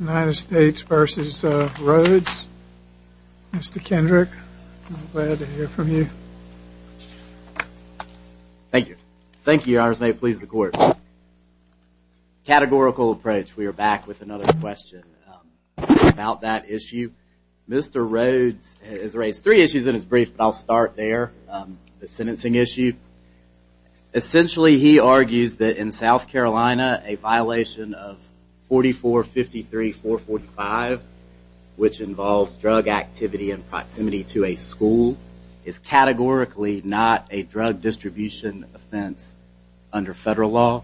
United States v. Rhodes Mr. Kendrick I'm glad to hear from you. Thank you. Thank you your honors may it please the court. Categorical approach we are back with another question about that issue. Mr. Rhodes has raised three issues in his brief but I'll start there. The sentencing issue essentially he argues that in South Carolina a violation of 4453 445 which involves drug activity and proximity to a school is categorically not a drug distribution offense under federal law.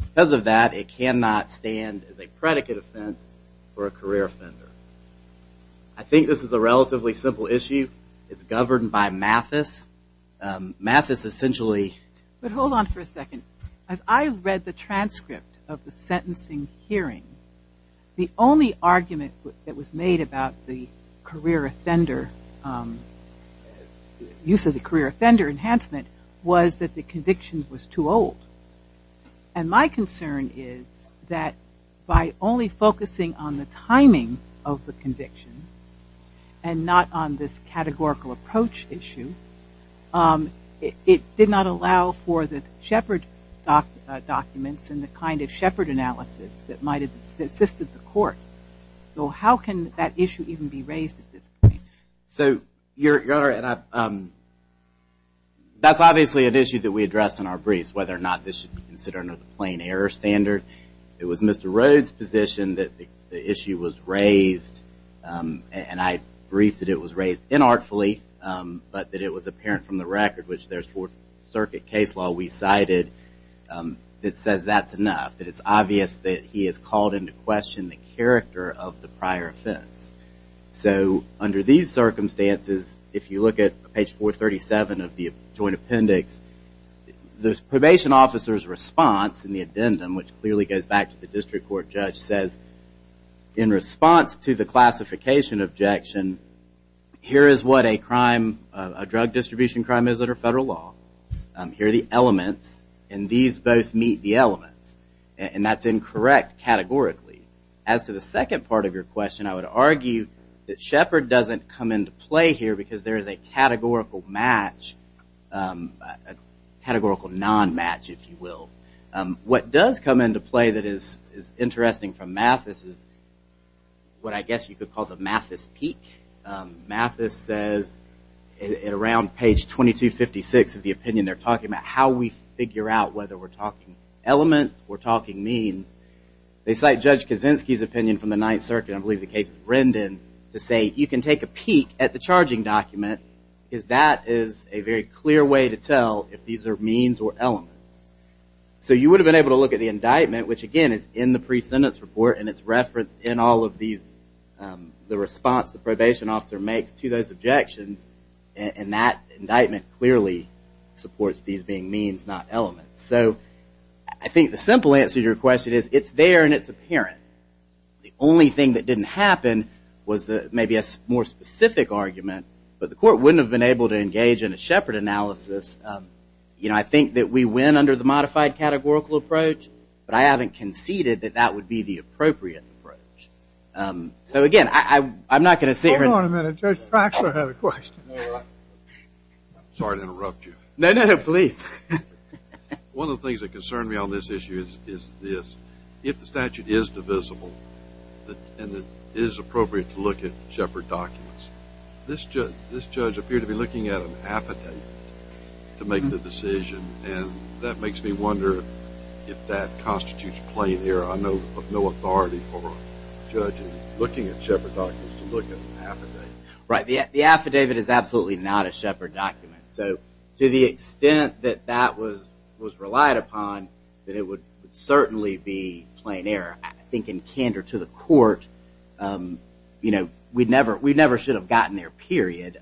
Because of that it cannot stand as a predicate offense for a career offender. I think this is a relatively simple issue. It's I read the transcript of the sentencing hearing the only argument that was made about the career offender use of the career offender enhancement was that the conviction was too old. And my concern is that by only focusing on the timing of the conviction and not on this categorical approach issue it did not allow for the Shepard documents and the kind of Shepard analysis that might have assisted the court. So how can that issue even be raised at this point? So your honor and I that's obviously an issue that we address in our briefs whether or not this should be considered another plain error standard. It was Mr. Rhodes position that the issue was raised and I briefed that it was raised in artfully but that it was apparent from the record which there's Fourth Circuit case law we cited that says that's enough. That it's obvious that he has called into question the character of the prior offense. So under these circumstances if you look at page 437 of the joint appendix the probation officer's response in the addendum which clearly goes back to the district court judge says in response to the classification objection here is what a crime, a drug distribution crime is under federal law. Here are the elements and these both meet the elements and that's incorrect categorically. As to the second part of your question I would argue that Shepard doesn't come into play here because there is a categorical match, a categorical non-match if you will. What does come into play that is interesting from Mathis is what I guess you could call the Mathis peak. Mathis says at around page 2256 of the opinion they're talking about how we figure out whether we're talking elements or talking means they cite Judge Kaczynski's opinion from the Ninth Circuit I believe the case of Rendon to say you can take a peek at the charging document because that is a very clear way to tell if these are means or elements. So you would have been able to look at the indictment which again is in the pre-sentence report and it's referenced in all of these the response the probation officer makes to those objections and that indictment clearly supports these being means not elements. So I think the simple answer to your question is it's there and it's apparent. The only thing that didn't happen was that maybe a more specific argument but the court wouldn't have been able to engage in a Shepard analysis. You know I think that we win under the modified categorical approach but I haven't conceded that that would be the appropriate approach. So again I'm not going to sit here and- Hold on a minute. Judge Traxler had a question. Sorry to interrupt you. No, no, no. Please. One of the things that concern me on this issue is this. If the statute is divisible and it is appropriate to look at Shepard documents, this judge appeared to be looking at an affidavit to make the decision and that makes me wonder if that constitutes plain error. I know of no authority for judges looking at Shepard documents to look at an affidavit. Right. The affidavit is absolutely not a Shepard document. So to the extent that that was relied upon that it would certainly be plain error. I think in this case, we never should have gotten there period.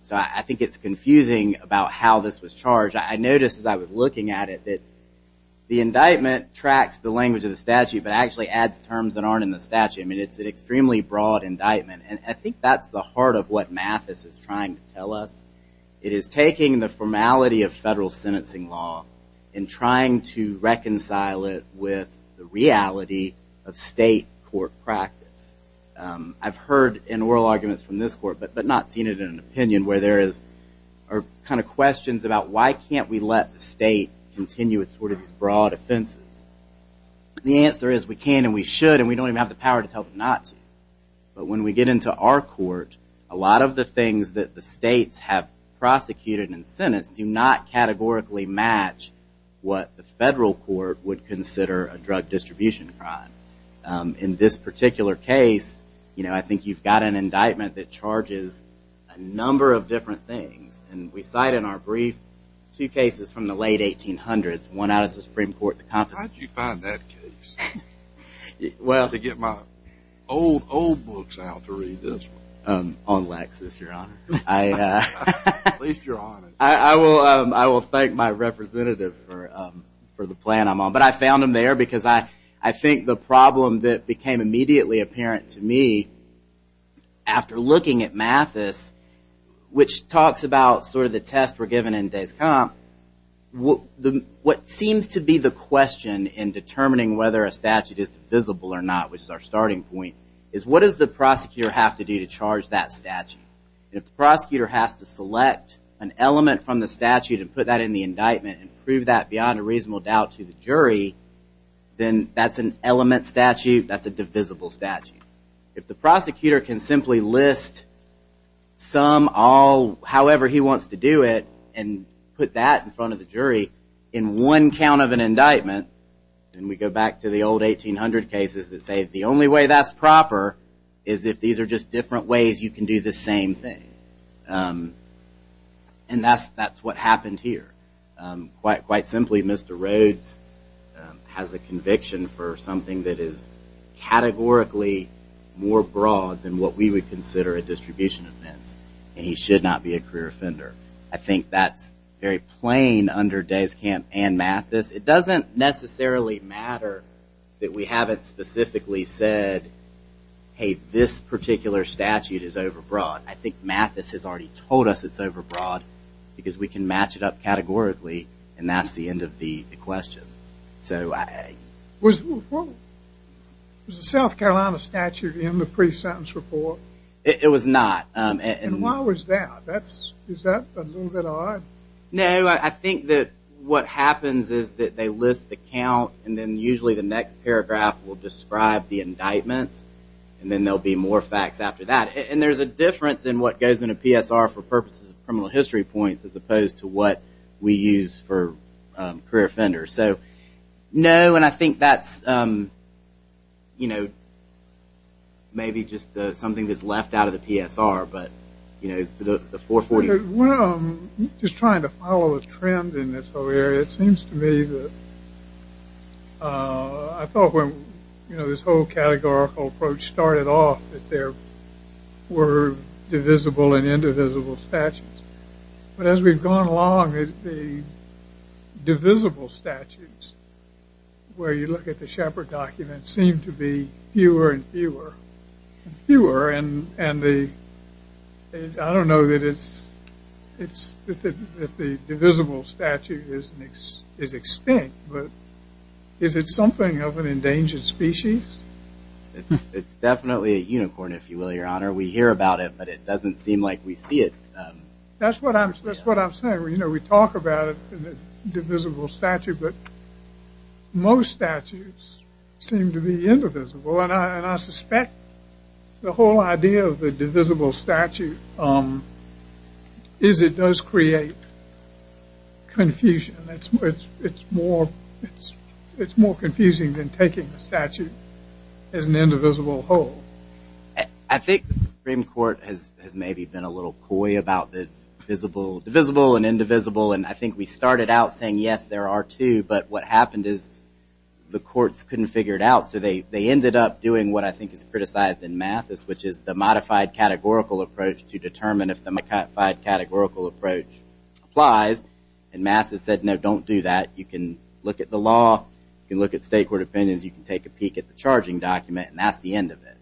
So I think it's confusing about how this was charged. I noticed as I was looking at it that the indictment tracks the language of the statute but actually adds terms that aren't in the statute. I mean it's an extremely broad indictment and I think that's the heart of what Mathis is trying to tell us. It is taking the formality of federal sentencing law and trying to reconcile it with the reality of state court practice. I've heard in oral arguments from this court but not seen it in an opinion where there is kind of questions about why can't we let the state continue with sort of these broad offenses. The answer is we can and we should and we don't even have the power to tell them not to. But when we get into our court, a lot of the things that the states have prosecuted and sentenced do not categorically match what the federal court would consider a crime. In this particular case, you know, I think you've got an indictment that charges a number of different things and we cite in our brief two cases from the late 1800s. One out of the Supreme Court. How did you find that case? Well, to get my old, old books out to read this one. On Lexis, your honor. I will thank my representative for the plan I'm on but I found them there because I think the problem that became immediately apparent to me after looking at Mathis which talks about sort of the test we're given in days come, what seems to be the question in determining whether a statute is divisible or not, which is our starting point, is what does the prosecutor have to do to charge that statute? If the prosecutor has to select an element from the statute and put that in the indictment and prove that beyond a reasonable doubt to the jury, then that's an element statute, that's a divisible statute. If the prosecutor can simply list some, all, however he wants to do it and put that in front of the jury in one count of an indictment, and we go back to the old 1800 cases that say the only way that's proper is if these are just different ways you can do the same thing. And that's what happened here. Quite simply, Mr. Rhodes has a conviction for something that is categorically more broad than what we would consider a distribution offense and he should not be a career offender. I think that's very plain under Days Camp and Mathis. It doesn't necessarily matter that we haven't specifically said, hey, this particular statute is overbroad. I think Mathis has already told us it's overbroad because we can match it up Was the South Carolina statute in the pre-sentence report? It was not. And why was that? Is that a little bit odd? No, I think that what happens is that they list the count and then usually the next paragraph will describe the indictment and then there'll be more facts after that. And there's a difference in what goes in a PSR for purposes of criminal history points as opposed to what we use for career offenders. So, no, and I think that's, you know, maybe just something that's left out of the PSR, but, you know, the 440. Just trying to follow a trend in this whole area, it seems to me that I thought when, you know, this whole categorical approach started off that there were divisible and indivisible statutes. But as we've gone along, the divisible statutes, where you look at the Shepard document, seem to be fewer and fewer and fewer. And I don't know that the divisible statute is extinct, but is it something of an endangered species? It's definitely a unicorn, if you will, your doesn't seem like we see it. That's what I'm saying, you know, we talk about it in the divisible statute, but most statutes seem to be indivisible. And I suspect the whole idea of the divisible statute is it does create confusion. It's more confusing than taking the statute as an maybe been a little coy about the divisible and indivisible. And I think we started out saying, yes, there are two, but what happened is the courts couldn't figure it out. So they ended up doing what I think is criticized in math, which is the modified categorical approach to determine if the modified categorical approach applies. And math has said, no, don't do that. You can look at the law, you can look at state court opinions, you can take a peek at the charging document, and that's the end of it.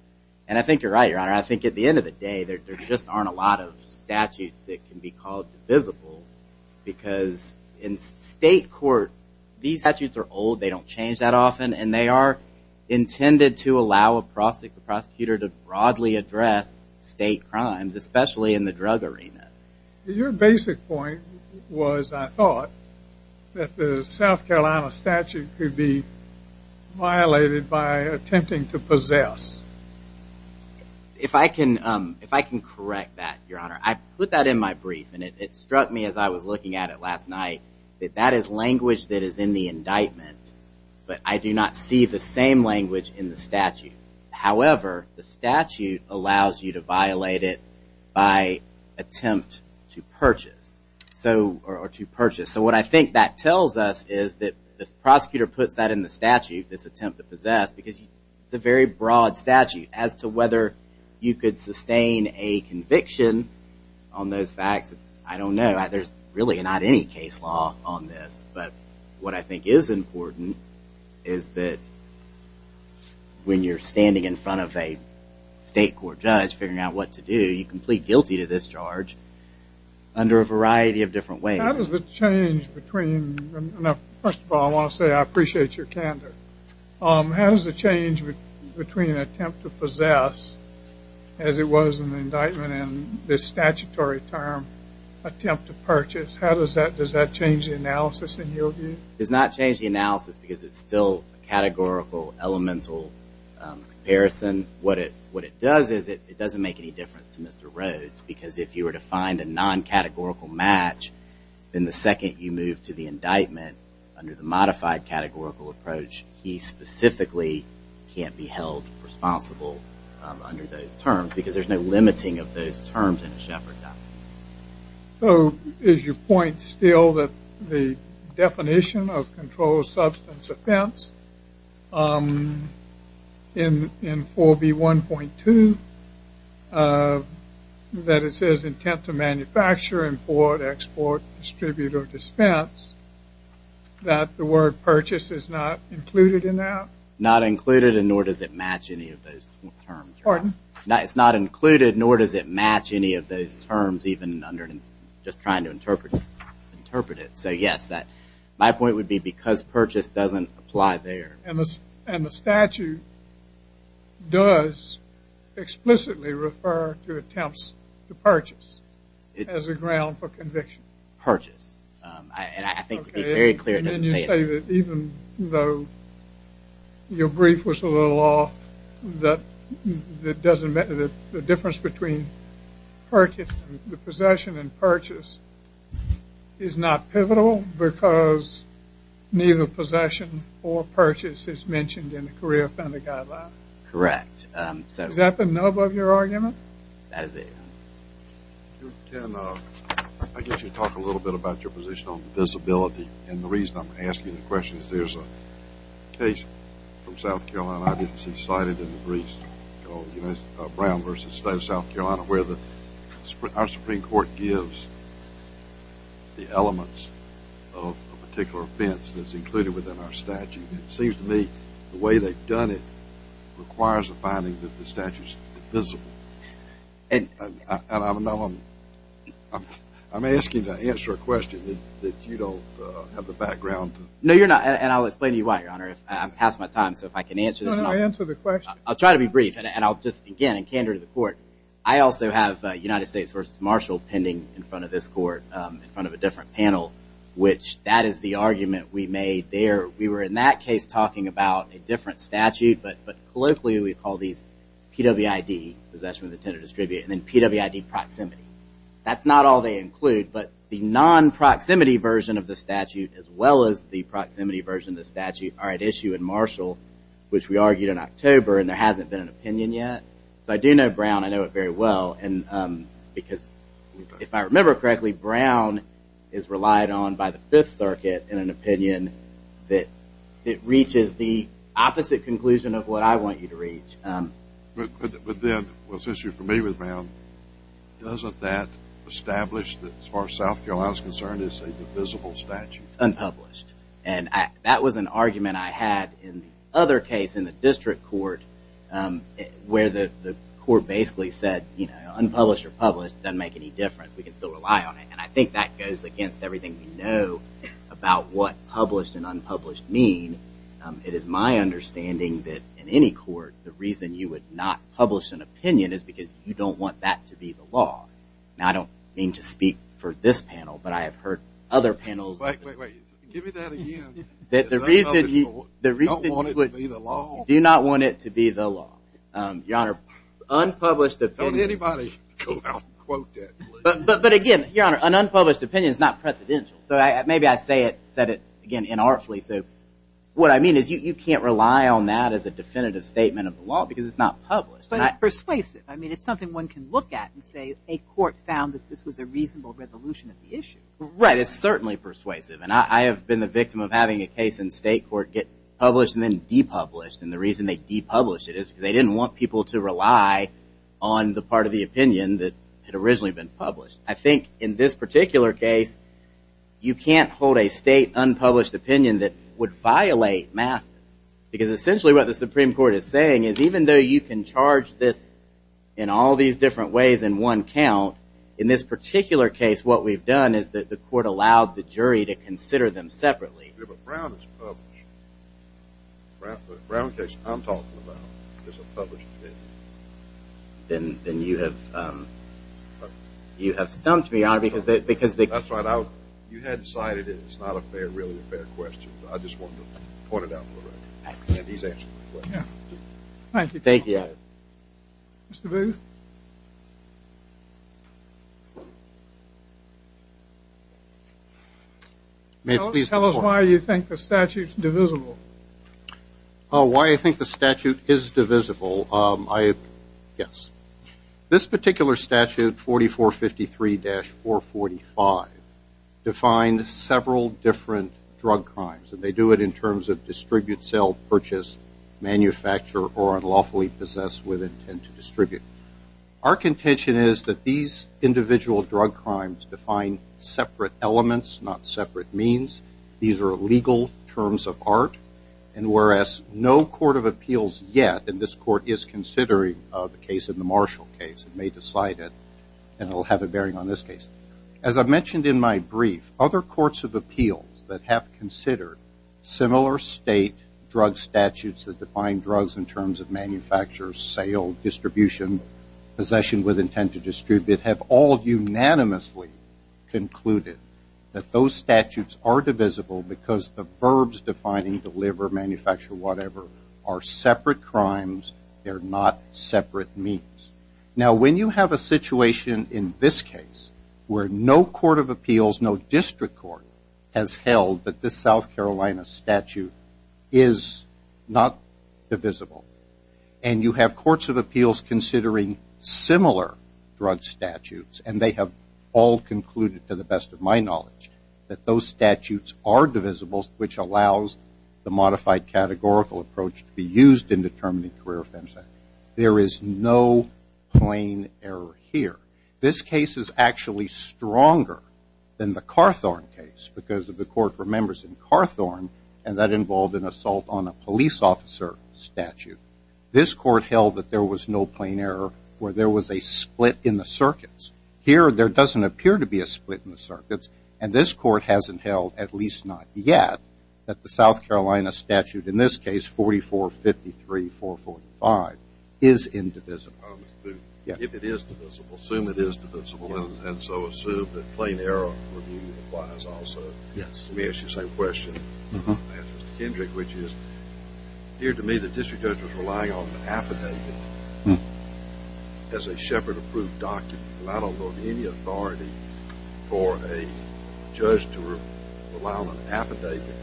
And I think you're right, your honor. I think at the end of the day, there just aren't a lot of statutes that can be called divisible because in state court, these statutes are old, they don't change that often, and they are intended to allow a prosecutor to broadly address state crimes, especially in the drug arena. Your basic point was, I thought, that the South Carolina statute could be violated by attempting to possess. If I can correct that, your honor, I put that in my brief and it struck me as I was looking at it last night, that that is language that is in the indictment, but I do not see the same language in the statute. However, the statute allows you to violate it by attempt to purchase. So what I think that tells us is that the prosecutor puts that in the statute, this attempt to possess, because it's a very broad statute as to whether you could sustain a conviction on those facts. I don't know. There's really not any case law on this, but what I think is important is that when you're standing in front of a state court judge figuring out what to do, you complete guilty to this charge under a variety of different ways. How does the change between, first of all, I want to say I appreciate your standard, how does the change between an attempt to possess, as it was in the indictment, and this statutory term, attempt to purchase, how does that, does that change the analysis in your view? It does not change the analysis because it's still categorical, elemental comparison. What it does is it doesn't make any difference to Mr. Rhodes, because if you were to find a non-categorical match, then the second you move to the indictment under the modified categorical approach, he specifically can't be held responsible under those terms, because there's no limiting of those terms in a Sheppard document. So, is your point still that the definition of controlled substance offense in 4b 1.2, that it says intent to manufacture, import, export, distribute, or dispense, that the purchase is not included in that? Not included, and nor does it match any of those terms. Pardon? It's not included, nor does it match any of those terms, even under, just trying to interpret it. So, yes, my point would be because purchase doesn't apply there. And the statute does explicitly refer to attempts to purchase as a ground for conviction. Purchase. And I think it would be very clear then you say that even though your brief was a little off, that the difference between the possession and purchase is not pivotal because neither possession or purchase is mentioned in the career offender guideline? Correct. Is that the nub of your argument? That is it. You can, I guess you can talk a little bit about your position on divisibility. And the reason I'm asking the question is there's a case from South Carolina I didn't see cited in the briefs called Brown v. State of South Carolina where our Supreme Court gives the elements of a particular offense that's included within our statute. It seems to me the way they've done it requires a finding that the statute is divisible. And I'm asking to answer a question that you don't have the background to. No, you're not. And I'll explain to you why, Your Honor. I've passed my time, so if I can answer this. No, no, answer the question. I'll try to be brief. And I'll just, again, in candor to the court, I also have United States v. Marshall pending in front of this court, in front of a different panel, which that is the argument we made there. We were in that case talking about a different statute, but colloquially we call these PWID, possession of the tenant or distributor, and then PWID proximity. That's not all they include, but the non-proximity version of the statute as well as the proximity version of the statute are at issue in Marshall, which we argued in October, and there hasn't been an opinion yet. So I do know Brown, I know it very well, and because if I remember correctly, Brown is relied on by the Fifth Circuit in an opinion that it reaches the opposite conclusion of what I want you to reach. But then, since you're familiar with Brown, doesn't that establish that as far as South Carolina is concerned, it's a divisible statute? It's unpublished. And that was an argument I had in the other case in the district court where the court basically said, you know, unpublished or published, doesn't make any difference. We can still rely on it. And I think that goes against everything we know about what published and any court, the reason you would not publish an opinion is because you don't want that to be the law. Now, I don't mean to speak for this panel, but I have heard other panels... The reason you do not want it to be the law. Your honor, unpublished opinion... But again, your honor, an unpublished opinion is not presidential. So maybe I said it again inartfully. So what I mean is you can't rely on that as a definitive statement of the law because it's not published. But it's persuasive. I mean, it's something one can look at and say a court found that this was a reasonable resolution of the issue. Right, it's certainly persuasive. And I have been the victim of having a case in state court get published and then depublished. And the reason they depublished it is because they didn't want people to rely on the part of the opinion that had originally been published. I think in this particular case, you can't hold a state unpublished opinion that would violate MAFIS. Because essentially what the Supreme Court is saying is even though you can charge this in all these different ways in one count, in this particular case what we've done is that the court allowed the jury to consider them separately. If a Brown is published, the Brown case I'm talking about is a published opinion. Then you have stumped me, because you had decided it's not really a fair question. I just wanted to point it out to Loretta, and he's answered the question. Thank you. Mr. Booth, tell us why you think the statute is divisible. Oh, why I think the statute is divisible? Yes. This particular statute, 4453-40, defines several different drug crimes. And they do it in terms of distribute, sell, purchase, manufacture, or unlawfully possess with intent to distribute. Our contention is that these individual drug crimes define separate elements, not separate means. These are legal terms of art. And whereas no court of appeals yet, and this court is considering the case in the Marshall case and may decide it, and it will have a bearing on this case. As I mentioned in my brief, other courts of appeals that have considered similar state drug statutes that define drugs in terms of manufacture, sale, distribution, possession with intent to distribute, have all unanimously concluded that those statutes are divisible because the verbs defining deliver, manufacture, whatever, are separate crimes. They're not separate means. Now, when you have a situation in this case where no court of appeals, no district court, has held that this South Carolina statute is not divisible, and you have courts of appeals considering similar drug statutes, and they have all concluded, to the best of my knowledge, that those statutes are divisible, which allows the modified categorical approach to be used in determining career offense. There is no plain error here. This case is actually stronger than the Carthorne case because the court remembers in Carthorne, and that involved an assault on a police officer statute. This court held that there was no plain error where there was a split in the circuits. Here, there doesn't appear to be a split in the circuits, and this court hasn't held, at least not yet, that the South Carolina statute, in this case, 4453-445, is indivisible. If it is divisible, assume it is divisible, and so assume that plain error review applies also. Yes. Let me ask you the same question. I'll ask Mr. Kendrick, which is, it appeared to me the district judge was relying on an affidavit as a Sheppard-approved document. I don't know of any authority for a judge to rely on an affidavit.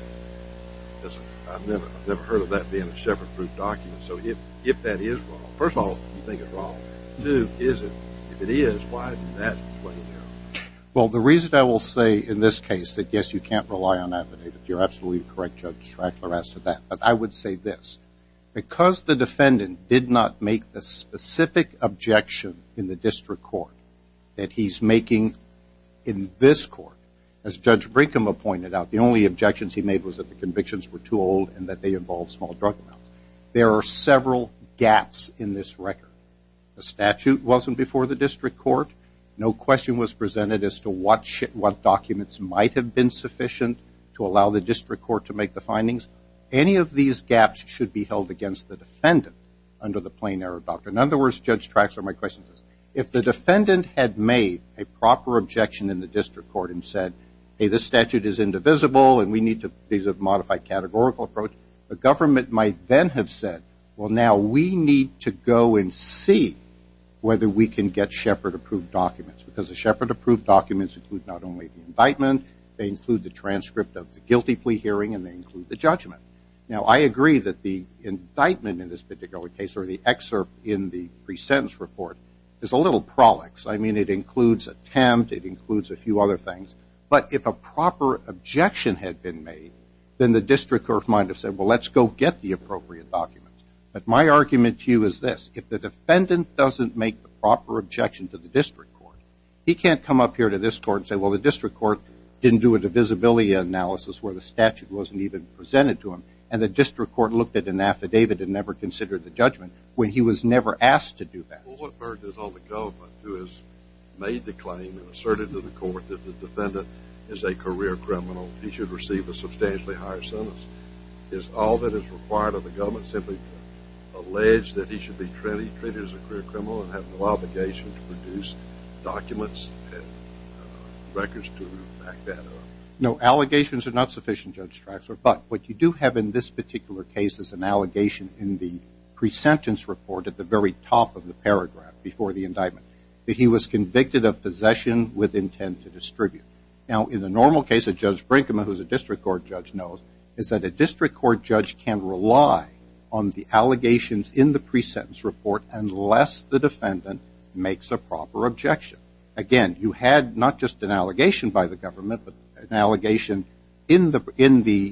I've never heard of that being a Sheppard-approved document. So if that is wrong, first of all, you think it's wrong. Two, is it? If it is, why is that a plain error? Well, the reason I will say in this case that, yes, you can't rely on affidavits. You're absolutely correct, Judge Strackler, as to that. But I would say this. Because the defendant did not make the specific objection in the district court that he's making in this court, as Judge Brinkum pointed out, the only objections he made was that the convictions were too old and that they involved small drug amounts. There are several gaps in this record. The statute wasn't before the district court. No question was presented as to what documents might have been sufficient to allow the district court to make the findings. Any of these gaps should be held against the defendant under the plain error doctrine. In other words, Judge Strackler, my question is, if the defendant had made a proper objection in the district court and said, hey, this statute is indivisible and we need to use a modified categorical approach, the government might then have said, well, now we need to go and see whether we can get Shepard-approved documents. Because the Shepard-approved documents include not only the indictment, they include the transcript of the guilty plea hearing, and they include the judgment. Now, I agree that the indictment in this particular case, or the excerpt in the pre-sentence report, is a little prolix. I mean, it includes attempt. It includes a few other things. But if a proper objection had been made, then the district court might have said, well, let's go get the appropriate documents. But my argument to you is this. If the defendant doesn't make the proper objection to the district court, he can't come up here to this court and say, well, the district court didn't do a divisibility analysis where the statute wasn't even presented to him, and the district court looked at an affidavit and never considered the judgment when he was never asked to do that. Well, what burden is on the government who has made the claim and asserted to the court that the defendant is a career criminal, he should receive a substantially higher sentence? Is all that is required of the government simply to allege that he should be treated as a career criminal and have no obligation to produce documents and records to back that up? No, allegations are not sufficient, Judge Traxler. But what you do have in this particular case is an allegation in the pre-sentence report at the very top of the paragraph before the indictment that he was convicted of possession with intent to distribute. Now, in the normal case, a Judge Brinkman, who is a district court judge, knows is that a district court judge can rely on the allegations in the pre-sentence report unless the defendant makes a proper objection. Again, you had not just an allegation by the government but an allegation in the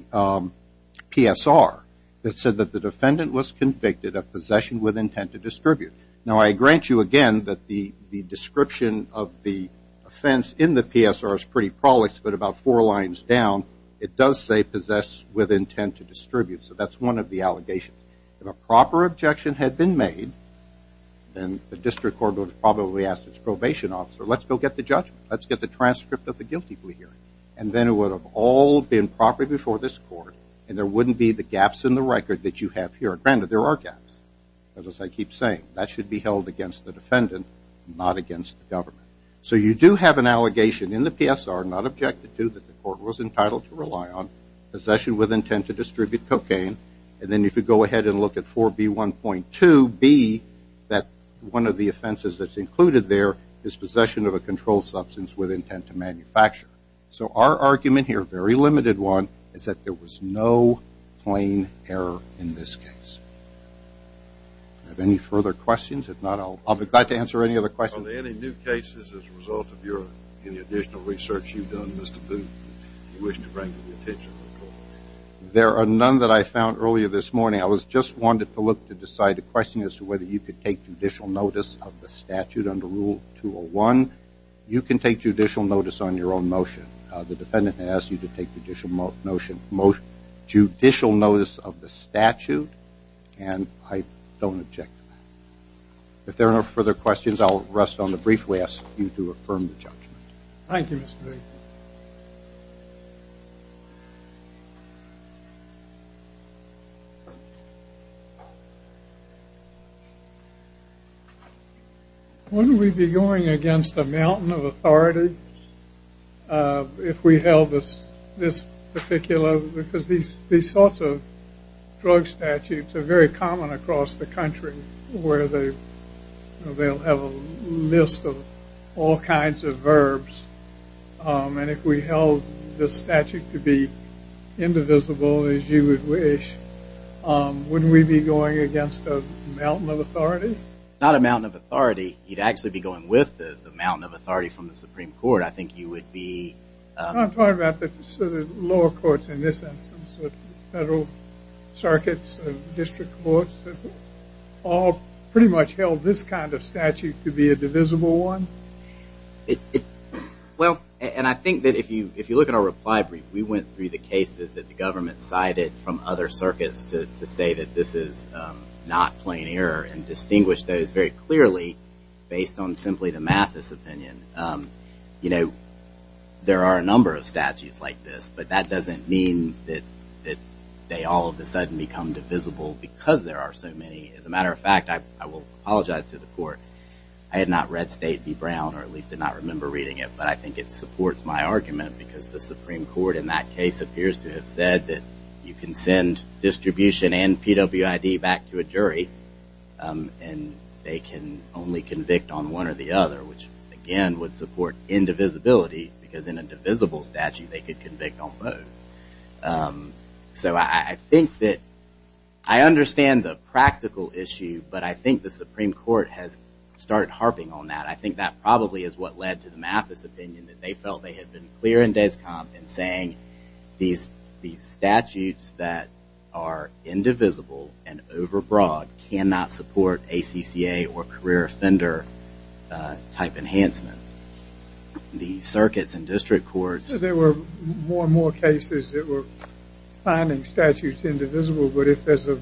PSR that said that the defendant was convicted of possession with intent to distribute. Now, I grant you again that the description of the offense in the PSR is pretty polished, but about four lines down it does say possess with intent to distribute. So that's one of the allegations. If a proper objection had been made, then the district court would have probably asked its probation officer, let's go get the judgment, let's get the transcript of the guilty plea hearing. And then it would have all been properly before this court and there wouldn't be the gaps in the record that you have here. Granted, there are gaps, as I keep saying. That should be held against the defendant, not against the government. So you do have an allegation in the PSR, not objected to, that the court was entitled to rely on, possession with intent to distribute cocaine. And then if you go ahead and look at 4B1.2B, one of the offenses that's included there is possession of a controlled substance with intent to manufacture. So our argument here, a very limited one, is that there was no plain error in this case. Do I have any further questions? If not, I'll be glad to answer any other questions. Are there any new cases as a result of any additional research you've done, Mr. Booth, that you wish to bring to the attention of the court? There are none that I found earlier this morning. I just wanted to look to decide a question as to whether you could take judicial notice of the statute under Rule 201. You can take judicial notice on your own motion. The defendant asked you to take judicial notice of the statute, and I don't object to that. If there are no further questions, I'll rest on the brief way I asked you to affirm the judgment. Thank you, Mr. Booth. Wouldn't we be going against a mountain of authority if we held this particular, because these sorts of drug statutes are very common across the country, where they'll have a list of all kinds of verbs, and if we held the statute to be indivisible, as you would wish, wouldn't we be going against a mountain of authority? Not a mountain of authority. You'd actually be going with the mountain of authority from the Supreme Court. I think you would be- I'm talking about the lower courts in this instance, with federal circuits and district courts that all pretty much held this kind of statute to be a divisible one. Well, and I think that if you look at our reply brief, we went through the cases that the government cited from other circuits to say that this is not plain error and distinguish those very clearly based on simply the Mathis opinion. You know, there are a number of statutes like this, but that doesn't mean that they all of a sudden become divisible because there are so many. As a matter of fact, I will apologize to the court. I had not read State v. Brown, or at least did not remember reading it, but I think it supports my argument because the Supreme Court in that case appears to have said that you can send distribution and PWID back to a jury and they can only convict on one or the other, which again would support indivisibility because in a divisible statute they could convict on both. So I think that- I understand the practical issue, but I think the Supreme Court has started harping on that. I think that probably is what led to the Mathis opinion, that they felt they had been clear in Descomp and saying these statutes that are indivisible and overbroad cannot support ACCA or career offender type enhancements. The circuits and district courts- There were more and more cases that were finding statutes indivisible, but if there's a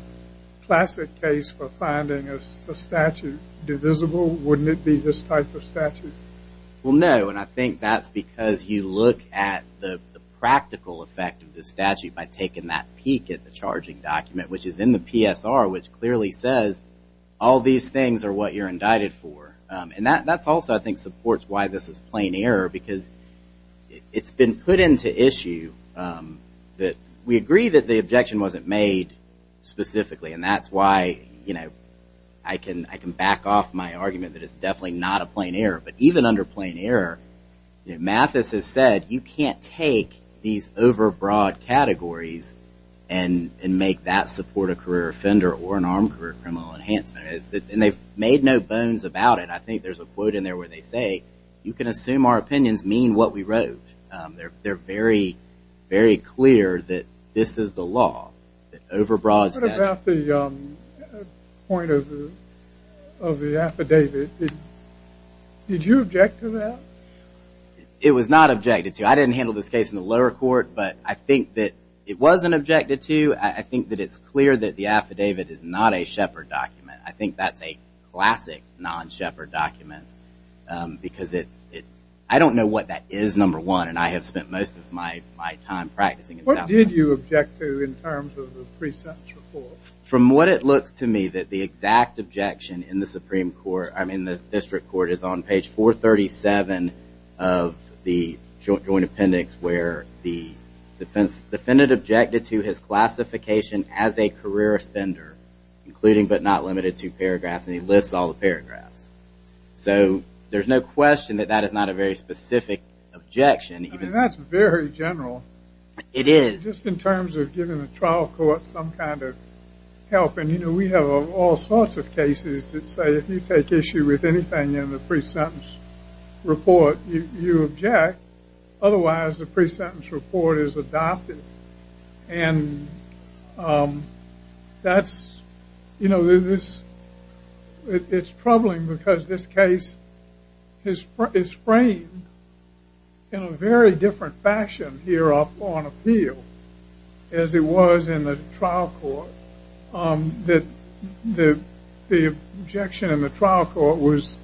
classic case for finding a statute divisible, wouldn't it be this type of statute? Well, no, and I think that's because you look at the practical effect of the statute by taking that peek at the charging document, which is in the PSR, which clearly says all these things are what you're indicted for. And that's also, I think, supports why this is plain error because it's been put into issue that- we agree that the objection wasn't made specifically, and that's why I can back off my argument that it's definitely not a plain error, but even under plain error, Mathis has said you can't take these overbroad categories and make that support a career offender or an armed career criminal enhancement. And they've made no bones about it. I think there's a quote in there where they say, you can assume our opinions mean what we wrote. They're very, very clear that this is the law, that overbroad- What about the point of the affidavit? Did you object to that? It was not objected to. I didn't handle this case in the lower court, but I think that it wasn't objected to. I think that it's clear that the affidavit is not a Shepard document. I think that's a classic non-Shepard document because I don't know what that is, number one, and I have spent most of my time practicing in South Carolina. What did you object to in terms of the pre-sentence report? From what it looks to me that the exact objection in the Supreme Court- I mean, the district court is on page 437 of the joint appendix where the defendant objected to his classification as a career offender, including but not limited to paragraphs, and he lists all the paragraphs. So there's no question that that is not a very specific objection. I mean, that's very general. It is. Just in terms of giving the trial court some kind of help, and, you know, we have all sorts of cases that say if you take issue with anything in the pre-sentence report, you object. Otherwise, the pre-sentence report is adopted, and that's, you know, it's troubling because this case is framed in a very different fashion here up on appeal as it was in the trial court. The objection in the trial court was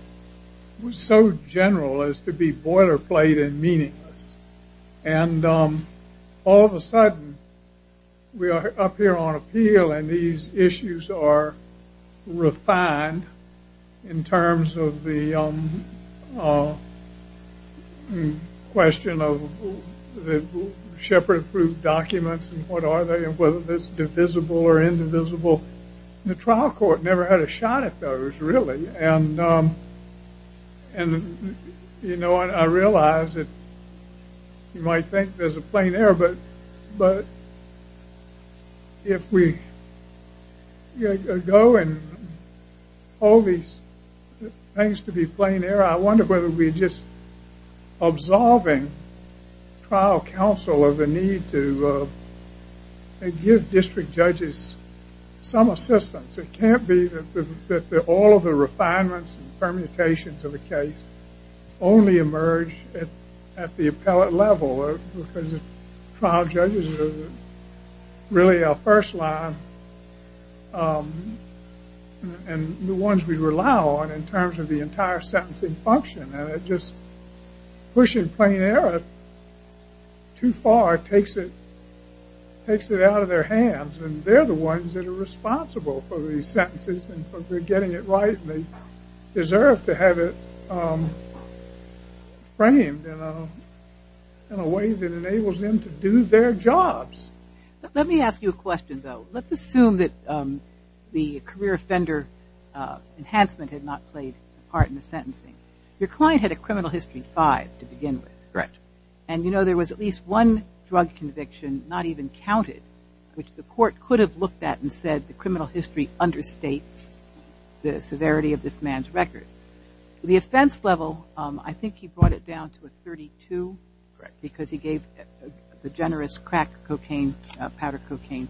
so general as to be boilerplate and meaningless, and all of a sudden we are up here on appeal, and these issues are refined in terms of the question of shepherd approved documents and what are they and whether it's divisible or indivisible. The trial court never had a shot at those, really, and, you know, I realize that you might think there's a plain error, but if we go and hold these things to be plain error, I wonder whether we're just absolving trial counsel of the need to give district judges some assistance. It can't be that all of the refinements and permutations of the case only emerge at the appellate level because trial judges are really our first line and the ones we rely on in terms of the entire sentencing function, and just pushing plain error too far takes it out of their hands, and they're the ones that are responsible for these sentences and for getting it right and they deserve to have it framed in a way that enables them to do their jobs. Let me ask you a question, though. Let's assume that the career offender enhancement had not played a part in the sentencing. Your client had a criminal history five to begin with, and you know there was at least one drug conviction, not even counted, which the court could have looked at and said the criminal history understates the severity of this man's record. The offense level, I think he brought it down to a 32, because he gave the generous crack cocaine, powder cocaine,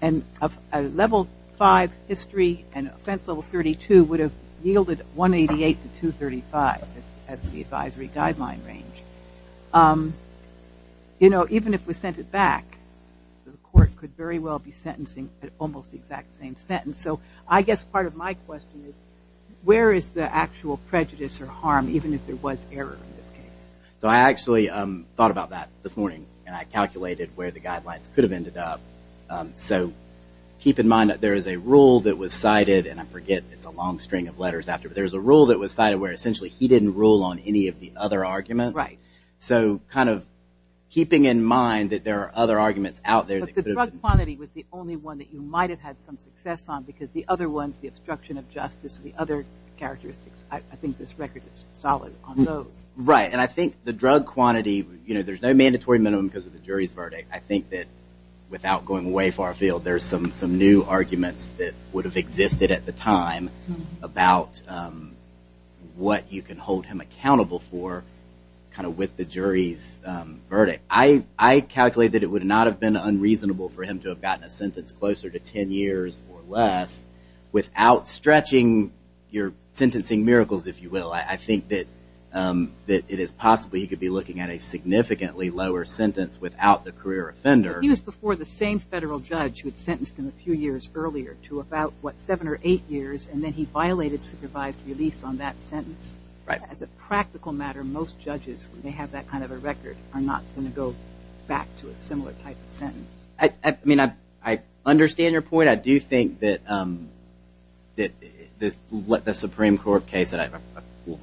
and a level five history and offense level 32 would have yielded 188 to 235 as the advisory guideline range. You know, even if we sent it back, the court could very well be sentencing at almost the exact same sentence. So I guess part of my question is where is the actual prejudice or harm, even if there was error in this case? So I actually thought about that this morning, and I calculated where the guidelines could have ended up. So keep in mind that there is a rule that was cited, and I forget it's a long string of letters after, but there's a rule that was cited where essentially he didn't rule on any of the other arguments. Right. So kind of keeping in mind that there are other arguments out there. But the drug quantity was the only one that you might have had some success on because the other ones, the obstruction of justice, the other characteristics, I think this record is solid on those. Right, and I think the drug quantity, you know, there's no mandatory minimum because of the jury's verdict. I think that without going way far afield, there's some new arguments that would have existed at the time about what you can hold him accountable for kind of with the jury's verdict. I calculated it would not have been unreasonable for him to have gotten a sentence closer to 10 years or less without stretching your sentencing miracles, if you will. I think that it is possible he could be looking at a significantly lower sentence without the career offender. He was before the same federal judge who had sentenced him a few years earlier to about, what, seven or eight years, and then he violated supervised release on that sentence. Right. As a practical matter, most judges, when they have that kind of a record, are not going to go back to a similar type of sentence. I mean, I understand your point. I do think that the Supreme Court case that I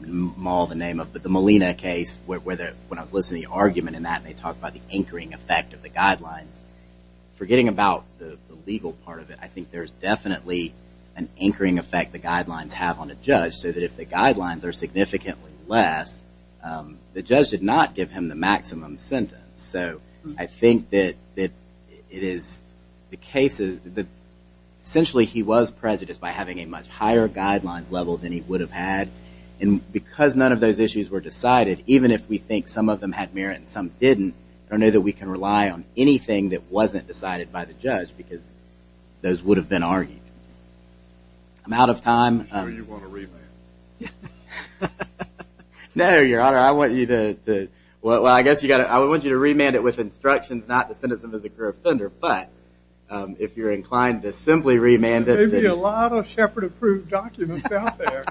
maul the name of, but the Molina case, when I was listening to the argument in that and they talked about the anchoring effect of the guidelines, forgetting about the legal part of it, I think there's definitely an anchoring effect the guidelines have on a judge so that if the guidelines are significantly less, the judge did not give him the maximum sentence. So I think that it is the cases that essentially he was prejudiced by having a much higher guideline level than he would have had, and because none of those issues were decided, even if we think some of them had merit and some didn't, I don't know that we can rely on anything that wasn't decided by the judge because those would have been argued. I'm out of time. You want to remand? No, Your Honor. I want you to remand it with instructions, not to send it to him as a career offender, but if you're inclined to simply remand it. There may be a lot of Shepard approved documents out there.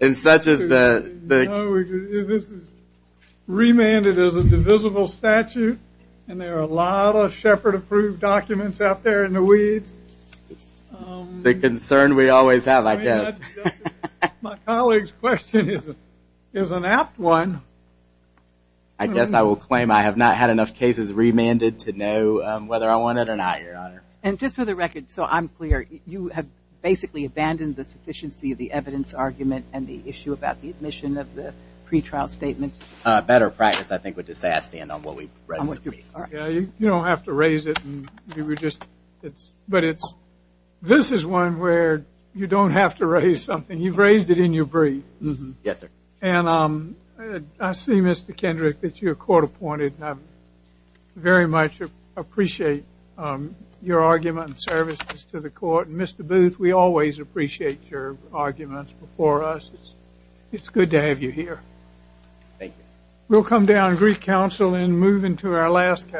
And such as the... And there are a lot of Shepard approved documents out there in the weeds. The concern we always have, I guess. My colleague's question is an apt one. I guess I will claim I have not had enough cases remanded to know whether I want it or not, Your Honor. And just for the record, so I'm clear, you have basically abandoned the sufficiency of the evidence argument and the issue about the admission of the pretrial statements. Better practice, I think, would just say I stand on what we've read. You don't have to raise it. But this is one where you don't have to raise something. You've raised it in your brief. Yes, sir. And I see, Mr. Kendrick, that you're court appointed. I very much appreciate your argument in service to the court. And, Mr. Booth, we always appreciate your arguments before us. It's good to have you here. Thank you. We'll come down to Greek Council and move into our last case.